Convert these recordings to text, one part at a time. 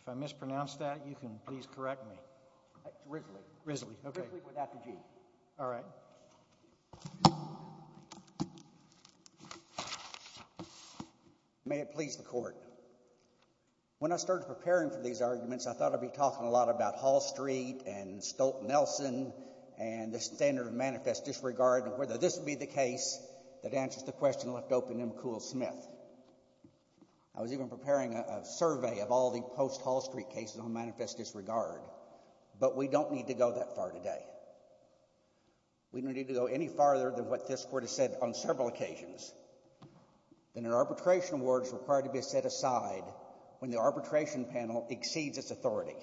If I mispronounced that, you can please correct me. It's Risley. Risley, okay. Risley without the G. All right. May it please the Court. When I started preparing for these arguments, I thought I'd be talking a lot about Hall Street and Stolt-Nelson and the standard of manifest disregard, and whether this would be the case that answers the question left open in McCool-Smith. I was even preparing a survey of all the post-Hall Street cases on manifest disregard, but we don't need to go that far today. We don't need to go any farther than what this Court has said on several occasions, that an arbitration award is required to be set aside when the arbitration panel exceeds its authority.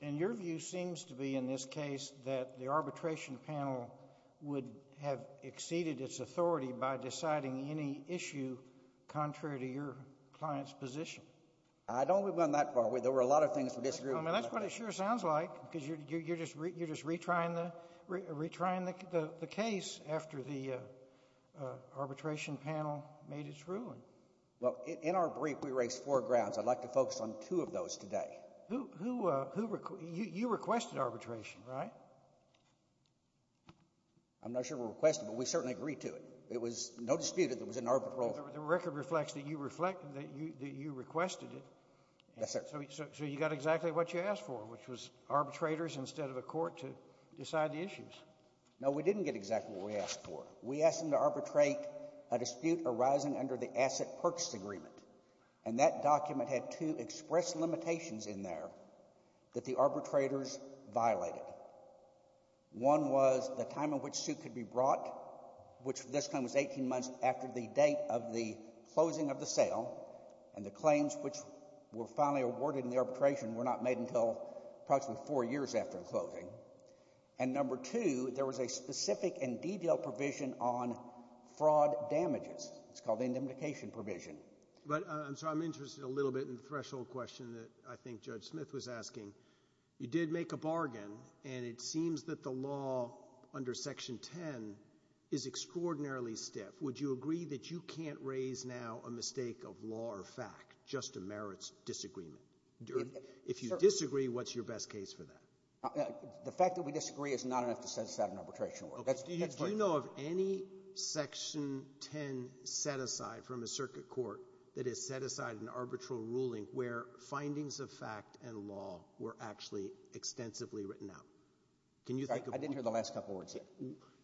And your view seems to be, in this case, that the arbitration panel would have exceeded its authority by deciding any issue contrary to your client's position. I don't believe we've gone that far. There were a lot of things we disagreed with. That's what it sure sounds like, because you're just retrying the case after the arbitration panel made its ruling. Well, in our brief, we raised four grounds. I'd like to focus on two of those today. You requested arbitration, right? I'm not sure we requested, but we certainly agreed to it. It was no dispute that it was an arbitral. The record reflects that you requested it. Yes, sir. So you got exactly what you asked for, which was arbitrators instead of a court to decide the issues. No, we didn't get exactly what we asked for. We asked them to arbitrate a dispute arising under the Asset Purchase Agreement, and that document had two express limitations in there that the arbitrators violated. One was the time in which a suit could be brought, which at this time was 18 months after the date of the closing of the sale, and the claims which were finally awarded in the arbitration were not made until approximately four years after the closing. And number two, there was a specific and detailed provision on fraud damages. It's called the indemnification provision. But, I'm sorry, I'm interested a little bit in the threshold question that I think Judge Smith was asking. You did make a bargain, and it seems that the law under Section 10 is extraordinarily stiff. Would you agree that you can't raise now a mistake of law or fact, just a merits disagreement? If you disagree, what's your best case for that? The fact that we disagree is not enough to set us out on arbitration. Do you know of any Section 10 set-aside from a circuit court that has set aside an arbitral ruling where findings of fact and law were actually extensively written out? I didn't hear the last couple words yet.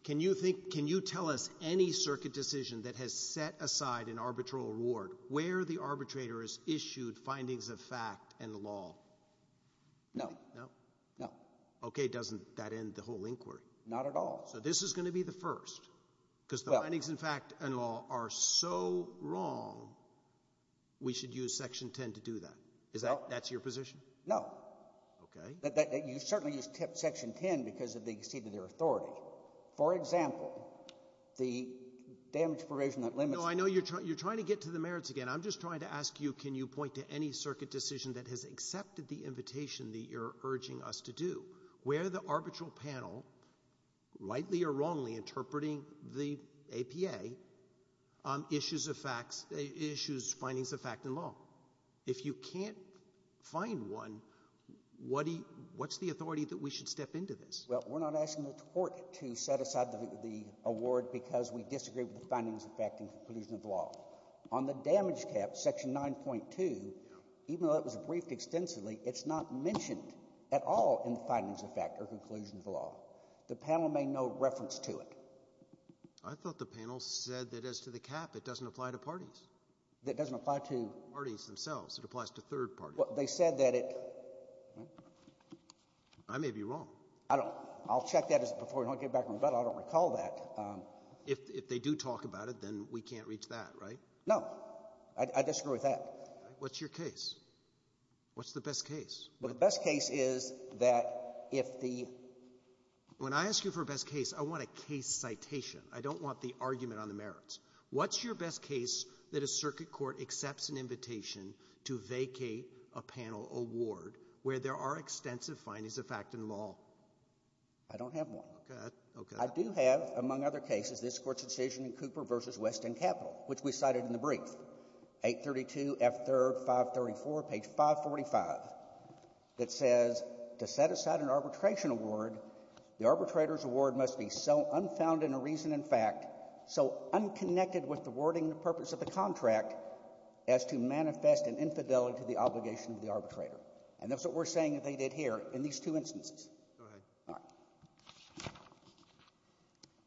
Can you tell us any circuit decision that has set aside an arbitral reward where the arbitrator has issued findings of fact and law? No. No? No. Okay, doesn't that end the whole inquiry? Not at all. So this is going to be the first, because the findings of fact and law are so wrong, we should use Section 10 to do that. That's your position? No. Okay. You certainly use Section 10 because of the exceeding of their authority. For example, the damage provision that limits it. No, I know you're trying to get to the merits again. I'm just trying to ask you, can you point to any circuit decision that has accepted the invitation that you're urging us to do? Where the arbitral panel, rightly or wrongly interpreting the APA, issues facts, issues findings of fact and law. If you can't find one, what's the authority that we should step into this? Well, we're not asking the court to set aside the award because we disagree with the findings of fact and conclusion of law. On the damage cap, Section 9.2, even though it was briefed extensively, it's not mentioned at all in the findings of fact or conclusion of law. The panel may know reference to it. I thought the panel said that as to the cap, it doesn't apply to parties. It doesn't apply to parties themselves. It applies to third parties. Well, they said that it – I may be wrong. I don't – I'll check that before we don't get back in rebuttal. I don't recall that. If they do talk about it, then we can't reach that, right? No. I disagree with that. What's your case? What's the best case? The best case is that if the – When I ask you for a best case, I want a case citation. I don't want the argument on the merits. What's your best case that a circuit court accepts an invitation to vacate a panel award where there are extensive findings of fact and law? I don't have one. Okay. I do have, among other cases, this Court's decision in Cooper v. Weston Capital, which we cited in the brief, 832 F. 3rd, 534, page 545, that says to set aside an arbitration award, the arbitrator's award must be so unfound in a reason and fact, so unconnected with the wording and purpose of the contract as to manifest an infidelity to the obligation of the arbitrator. And that's what we're saying that they did here in these two instances. Go ahead. All right.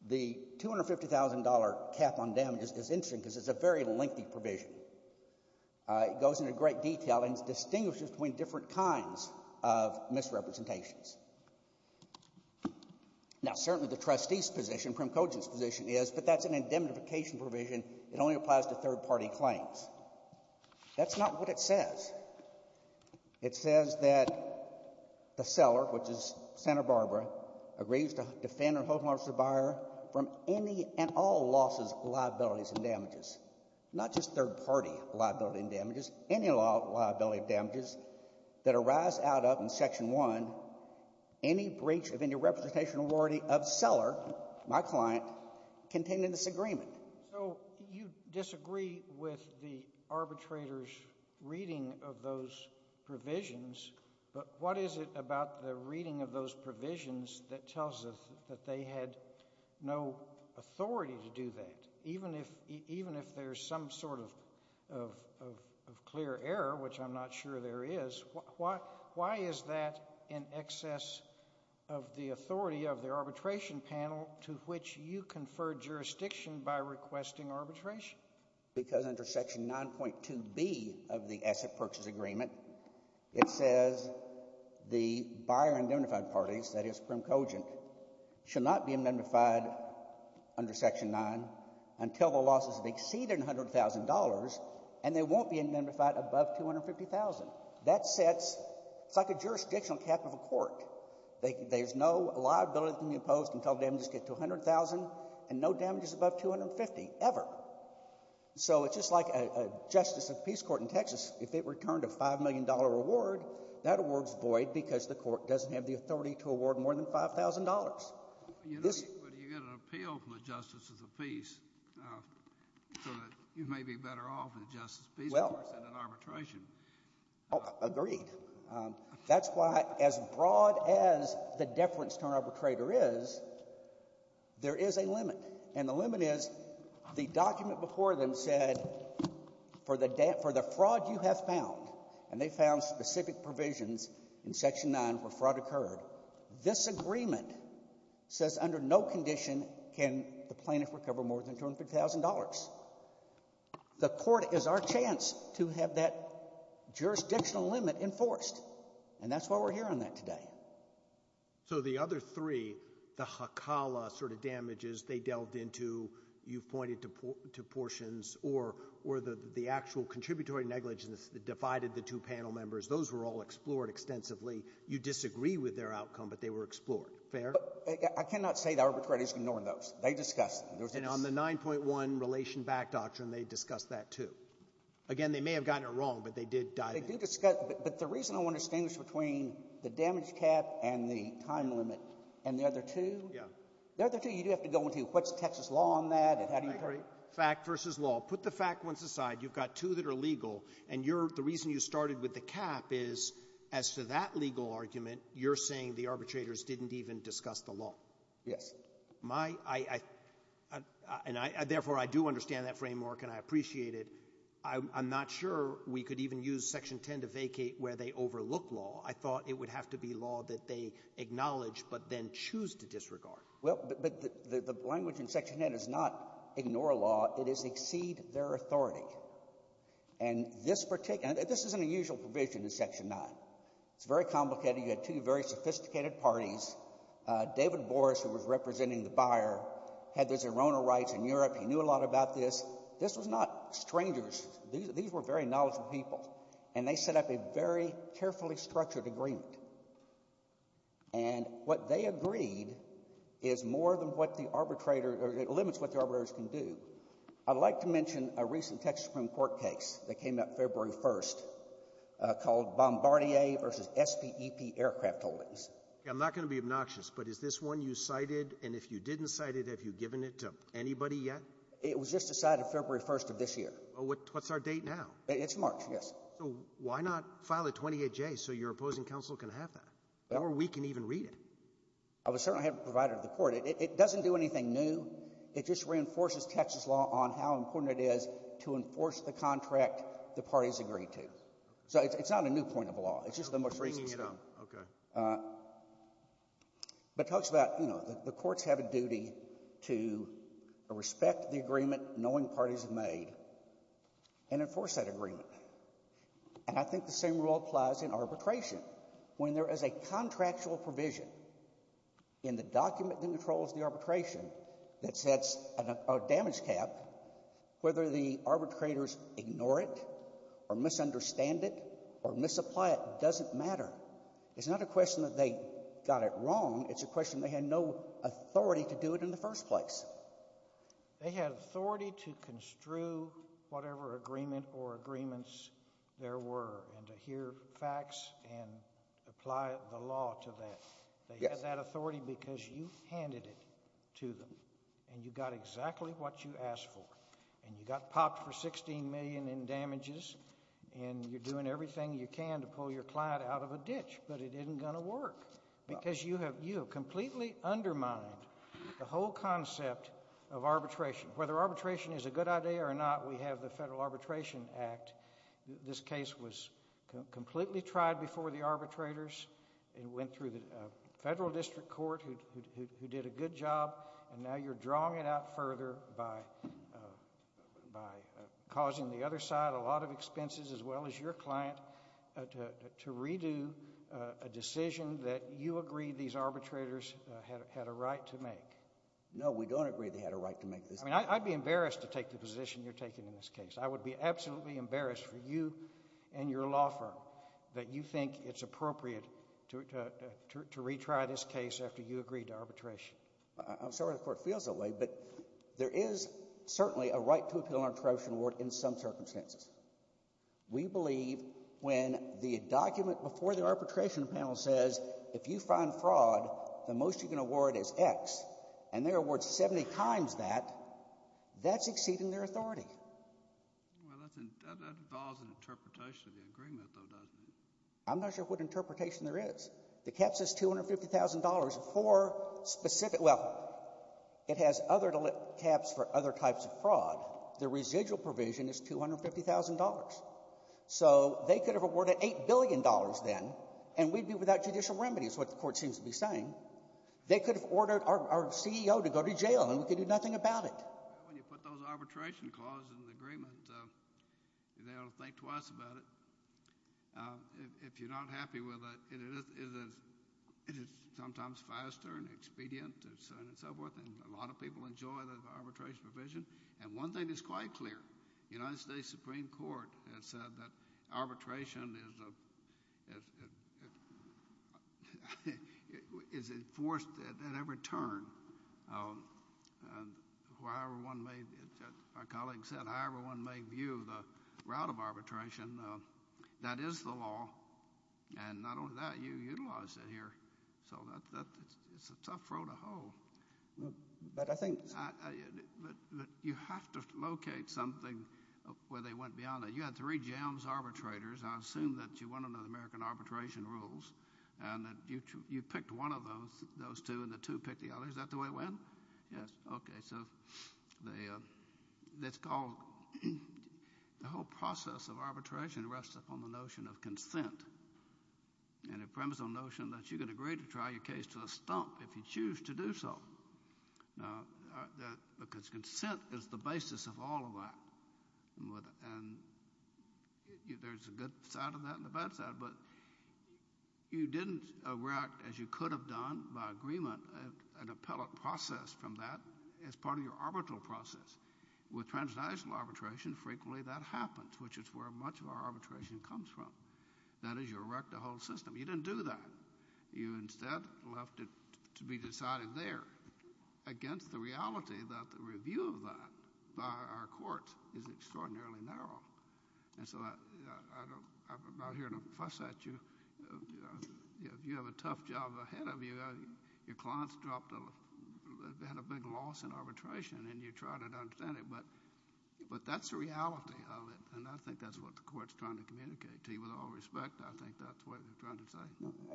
The $250,000 cap on damages is interesting because it's a very lengthy provision. It goes into great detail and distinguishes between different kinds of misrepresentations. Now, certainly the trustee's position, prim cogent's position is, but that's an indemnification provision. It only applies to third-party claims. That's not what it says. It says that the seller, which is Santa Barbara, agrees to defend or hold the buyer from any and all losses, liabilities, and damages, not just third-party liability and damages, any liability and damages that arise out of, in Section 1, any breach of any representation or authority of seller, my client, contained in this agreement. So you disagree with the arbitrator's reading of those provisions, but what is it about the reading of those provisions that tells us that they had no authority to do that? Even if there's some sort of clear error, which I'm not sure there is, why is that in excess of the authority of the arbitration panel to which you confer jurisdiction by requesting arbitration? Because under Section 9.2b of the Asset Purchase Agreement, it says the buyer and indemnified parties, that is prim cogent, should not be indemnified under Section 9 until the losses have exceeded $100,000, and they won't be indemnified above $250,000. That sets, it's like a jurisdictional cap of a court. There's no liability to be imposed until damages get to $100,000 and no damages above $250,000 ever. So it's just like a justice of the Peace Court in Texas. If it returned a $5 million reward, that award is void because the court doesn't have the authority to award more than $5,000. But you get an appeal from the justice of the peace so that you may be better off than the justice of the Peace Court in an arbitration. Agreed. That's why as broad as the deference to an arbitrator is, there is a limit, and the limit is the document before them said for the fraud you have found, and they found specific provisions in Section 9 where fraud occurred, this agreement says under no condition can the plaintiff recover more than $250,000. The court is our chance to have that jurisdictional limit enforced, and that's why we're here on that today. So the other three, the Hakala sort of damages they delved into, you've pointed to portions, or the actual contributory negligence that divided the two panel members, those were all explored extensively. You disagree with their outcome, but they were explored. Fair? I cannot say the arbitrator is ignoring those. They discussed them. And on the 9.1 Relation Back Doctrine, they discussed that, too. Again, they may have gotten it wrong, but they did dive in. They did discuss it, but the reason I want to distinguish between the damage cap and the time limit and the other two. Yeah. The other two you do have to go into. What's Texas law on that, and how do you? Fact versus law. Put the fact ones aside. You've got two that are legal, and you're the reason you started with the cap is as to that legal argument, you're saying the arbitrators didn't even discuss the law. Yes. My – and therefore I do understand that framework and I appreciate it. I'm not sure we could even use Section 10 to vacate where they overlook law. I thought it would have to be law that they acknowledge but then choose to disregard. Well, but the language in Section 10 is not ignore law. It is exceed their authority. And this particular – this isn't a usual provision in Section 9. It's very complicated. You had two very sophisticated parties. David Boris, who was representing the buyer, had the Zorona rights in Europe. He knew a lot about this. This was not strangers. These were very knowledgeable people, and they set up a very carefully structured agreement. And what they agreed is more than what the arbitrator – or it limits what the arbitrators can do. I'd like to mention a recent Texas Supreme Court case that came out February 1st called Bombardier v. SPEP Aircraft Holdings. I'm not going to be obnoxious, but is this one you cited? And if you didn't cite it, have you given it to anybody yet? It was just decided February 1st of this year. Well, what's our date now? It's March, yes. So why not file a 28-J so your opposing counsel can have that? Or we can even read it. I certainly haven't provided it to the court. It doesn't do anything new. It just reinforces Texas law on how important it is to enforce the contract the parties agreed to. So it's not a new point of the law. It's just the most recent. But it talks about, you know, the courts have a duty to respect the agreement knowing parties have made and enforce that agreement. And I think the same rule applies in arbitration. When there is a contractual provision in the document that controls the arbitration that sets a damage cap, whether the arbitrators ignore it or misunderstand it or misapply it doesn't matter. It's not a question that they got it wrong. It's a question they had no authority to do it in the first place. They had authority to construe whatever agreement or agreements there were and to hear facts and apply the law to that. They had that authority because you handed it to them and you got exactly what you asked for. And you got popped for $16 million in damages and you're doing everything you can to pull your client out of a ditch. But it isn't going to work because you have completely undermined the whole concept of arbitration. Whether arbitration is a good idea or not, we have the Federal Arbitration Act. This case was completely tried before the arbitrators. It went through the federal district court who did a good job. And now you're drawing it out further by causing the other side a lot of expenses as well as your client to redo a decision that you agreed these arbitrators had a right to make. No, we don't agree they had a right to make this decision. I'd be embarrassed to take the position you're taking in this case. I would be absolutely embarrassed for you and your law firm that you think it's appropriate to retry this case after you agreed to arbitration. I'm sorry the court feels that way, but there is certainly a right to appeal an arbitration award in some circumstances. We believe when the document before the arbitration panel says if you find fraud, the most you can award is X, and they award 70 times that, that's exceeding their authority. Well, that involves an interpretation of the agreement, though, doesn't it? I'm not sure what interpretation there is. The caps is $250,000 for specific – well, it has other caps for other types of fraud. The residual provision is $250,000. So they could have awarded $8 billion then, and we'd be without judicial remedy is what the court seems to be saying. They could have ordered our CEO to go to jail, and we could do nothing about it. When you put those arbitration clauses in the agreement, they ought to think twice about it. If you're not happy with it, it is sometimes faster and expedient and so forth, and a lot of people enjoy the arbitration provision. One thing is quite clear. The United States Supreme Court has said that arbitration is enforced at every turn. However one may – as my colleague said, however one may view the route of arbitration, that is the law, and not only that, you utilize it here. So it's a tough road to hoe. But I think – But you have to locate something where they went beyond that. You had three jams arbitrators. I assume that you went under the American arbitration rules and that you picked one of those, those two, and the two picked the other. Is that the way it went? Yes. Okay. That's called – the whole process of arbitration rests upon the notion of consent and a premise or notion that you can agree to try your case to a stump if you choose to do so. Because consent is the basis of all of that, and there's a good side of that and a bad side. But you didn't erect, as you could have done by agreement, an appellate process from that as part of your arbitral process. With transnational arbitration, frequently that happens, which is where much of our arbitration comes from. That is you erect a whole system. You didn't do that. You instead left it to be decided there against the reality that the review of that by our courts is extraordinarily narrow. And so I'm not here to fuss at you. If you have a tough job ahead of you, your client's dropped – had a big loss in arbitration, and you try to understand it. But that's the reality of it, and I think that's what the court's trying to communicate to you. With all respect, I think that's what they're trying to say.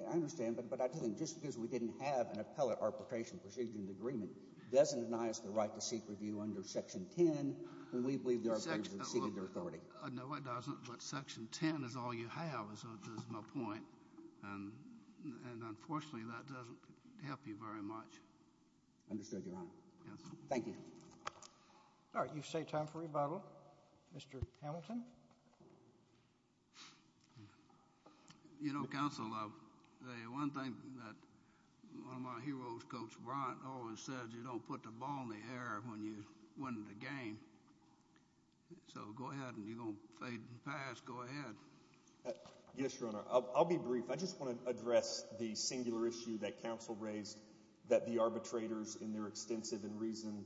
I understand, but I didn't – just because we didn't have an appellate arbitration proceeding agreement doesn't deny us the right to seek review under Section 10 when we believe the arbitrators have exceeded their authority. No, it doesn't. But Section 10 is all you have, is my point, and unfortunately that doesn't help you very much. Understood, Your Honor. Yes. Thank you. All right. You say time for rebuttal. Mr. Hamilton? You know, Counsel, one thing that one of my heroes, Coach Bryant, always says, you don't put the ball in the air when you're winning the game. So go ahead, and you're going to fade in the past. Go ahead. Yes, Your Honor. I'll be brief. I just want to address the singular issue that Counsel raised, that the arbitrators in their extensive and reasoned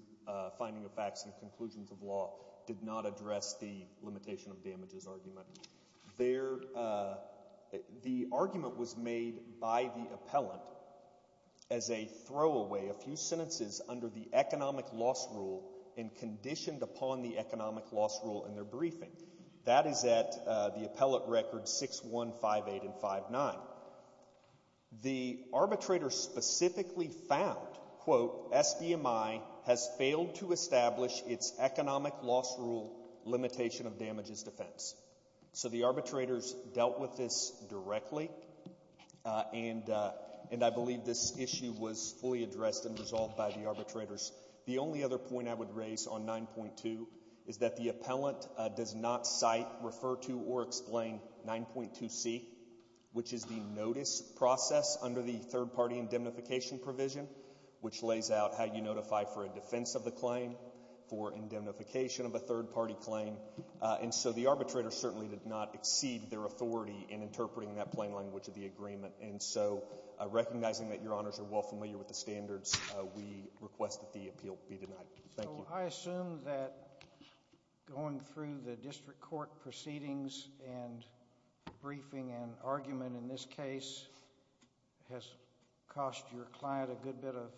finding of facts and conclusions of law did not address the limitation of damages argument. The argument was made by the appellant as a throwaway, a few sentences under the economic loss rule and conditioned upon the economic loss rule in their briefing. That is at the appellate records 6-1-5-8 and 5-9. The arbitrators specifically found, quote, SBMI has failed to establish its economic loss rule limitation of damages defense. So the arbitrators dealt with this directly, and I believe this issue was fully addressed and resolved by the arbitrators. The only other point I would raise on 9.2 is that the appellant does not cite, refer to, or explain 9.2C, which is the notice process under the third-party indemnification provision, which lays out how you notify for a defense of the claim, for indemnification of a third-party claim. And so the arbitrator certainly did not exceed their authority in interpreting that plain language of the agreement. And so recognizing that Your Honors are well familiar with the standards, we request that the appeal be denied. Thank you. So I assume that going through the district court proceedings and briefing and argument in this case has cost your client a good bit of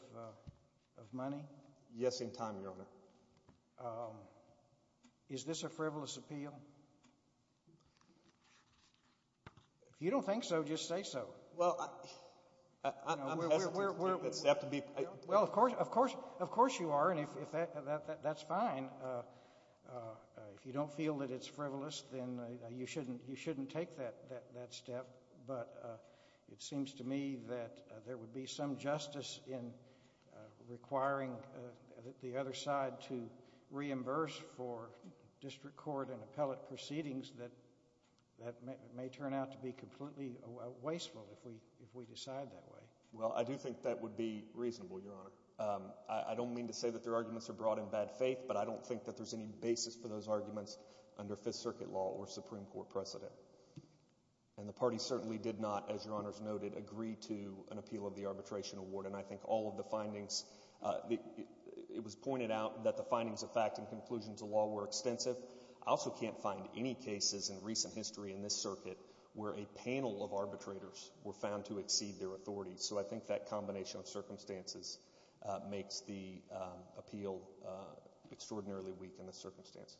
money? Yes, in time, Your Honor. Is this a frivolous appeal? If you don't think so, just say so. Well, I'm hesitant to take that step. Well, of course you are, and that's fine. If you don't feel that it's frivolous, then you shouldn't take that step. But it seems to me that there would be some justice in requiring the other side to reimburse for district court and appellate proceedings that may turn out to be completely wasteful if we decide that way. Well, I do think that would be reasonable, Your Honor. I don't mean to say that their arguments are brought in bad faith, but I don't think that there's any basis for those arguments under Fifth Circuit law or Supreme Court precedent. And the party certainly did not, as Your Honors noted, agree to an appeal of the arbitration award. And I think all of the findings – it was pointed out that the findings of fact and conclusions of law were extensive. I also can't find any cases in recent history in this circuit where a panel of arbitrators were found to exceed their authority. So I think that combination of circumstances makes the appeal extraordinarily weak in this circumstance.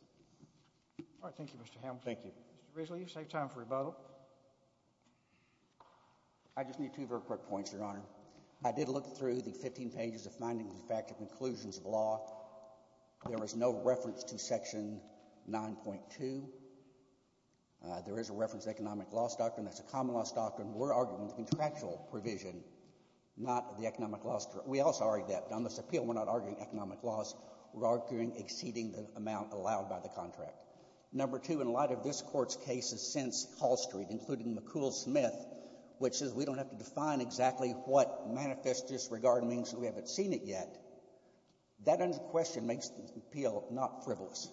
All right. Thank you, Mr. Hamilton. Thank you. Mr. Risley, you've saved time for rebuttal. I just need two very quick points, Your Honor. I did look through the 15 pages of findings of fact and conclusions of law. There was no reference to Section 9.2. There is a reference to economic loss doctrine. That's a common loss doctrine. We're arguing the contractual provision, not the economic loss. We also argue that. On this appeal, we're not arguing economic loss. We're arguing exceeding the amount allowed by the contract. Number two, in light of this Court's cases since Hall Street, including McCool-Smith, which says we don't have to define exactly what manifest disregard means, we haven't seen it yet, that under question makes the appeal not frivolous.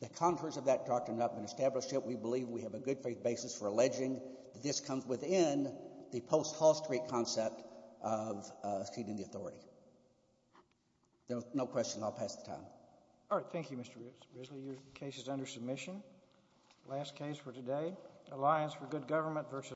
The contours of that doctrine have not been established yet. So we believe we have a good faith basis for alleging that this comes within the post-Hall Street concept of exceeding the authority. If there are no questions, I'll pass the time. All right. Thank you, Mr. Risley. Your case is under submission. Last case for today, Alliance for Good Government v. Law.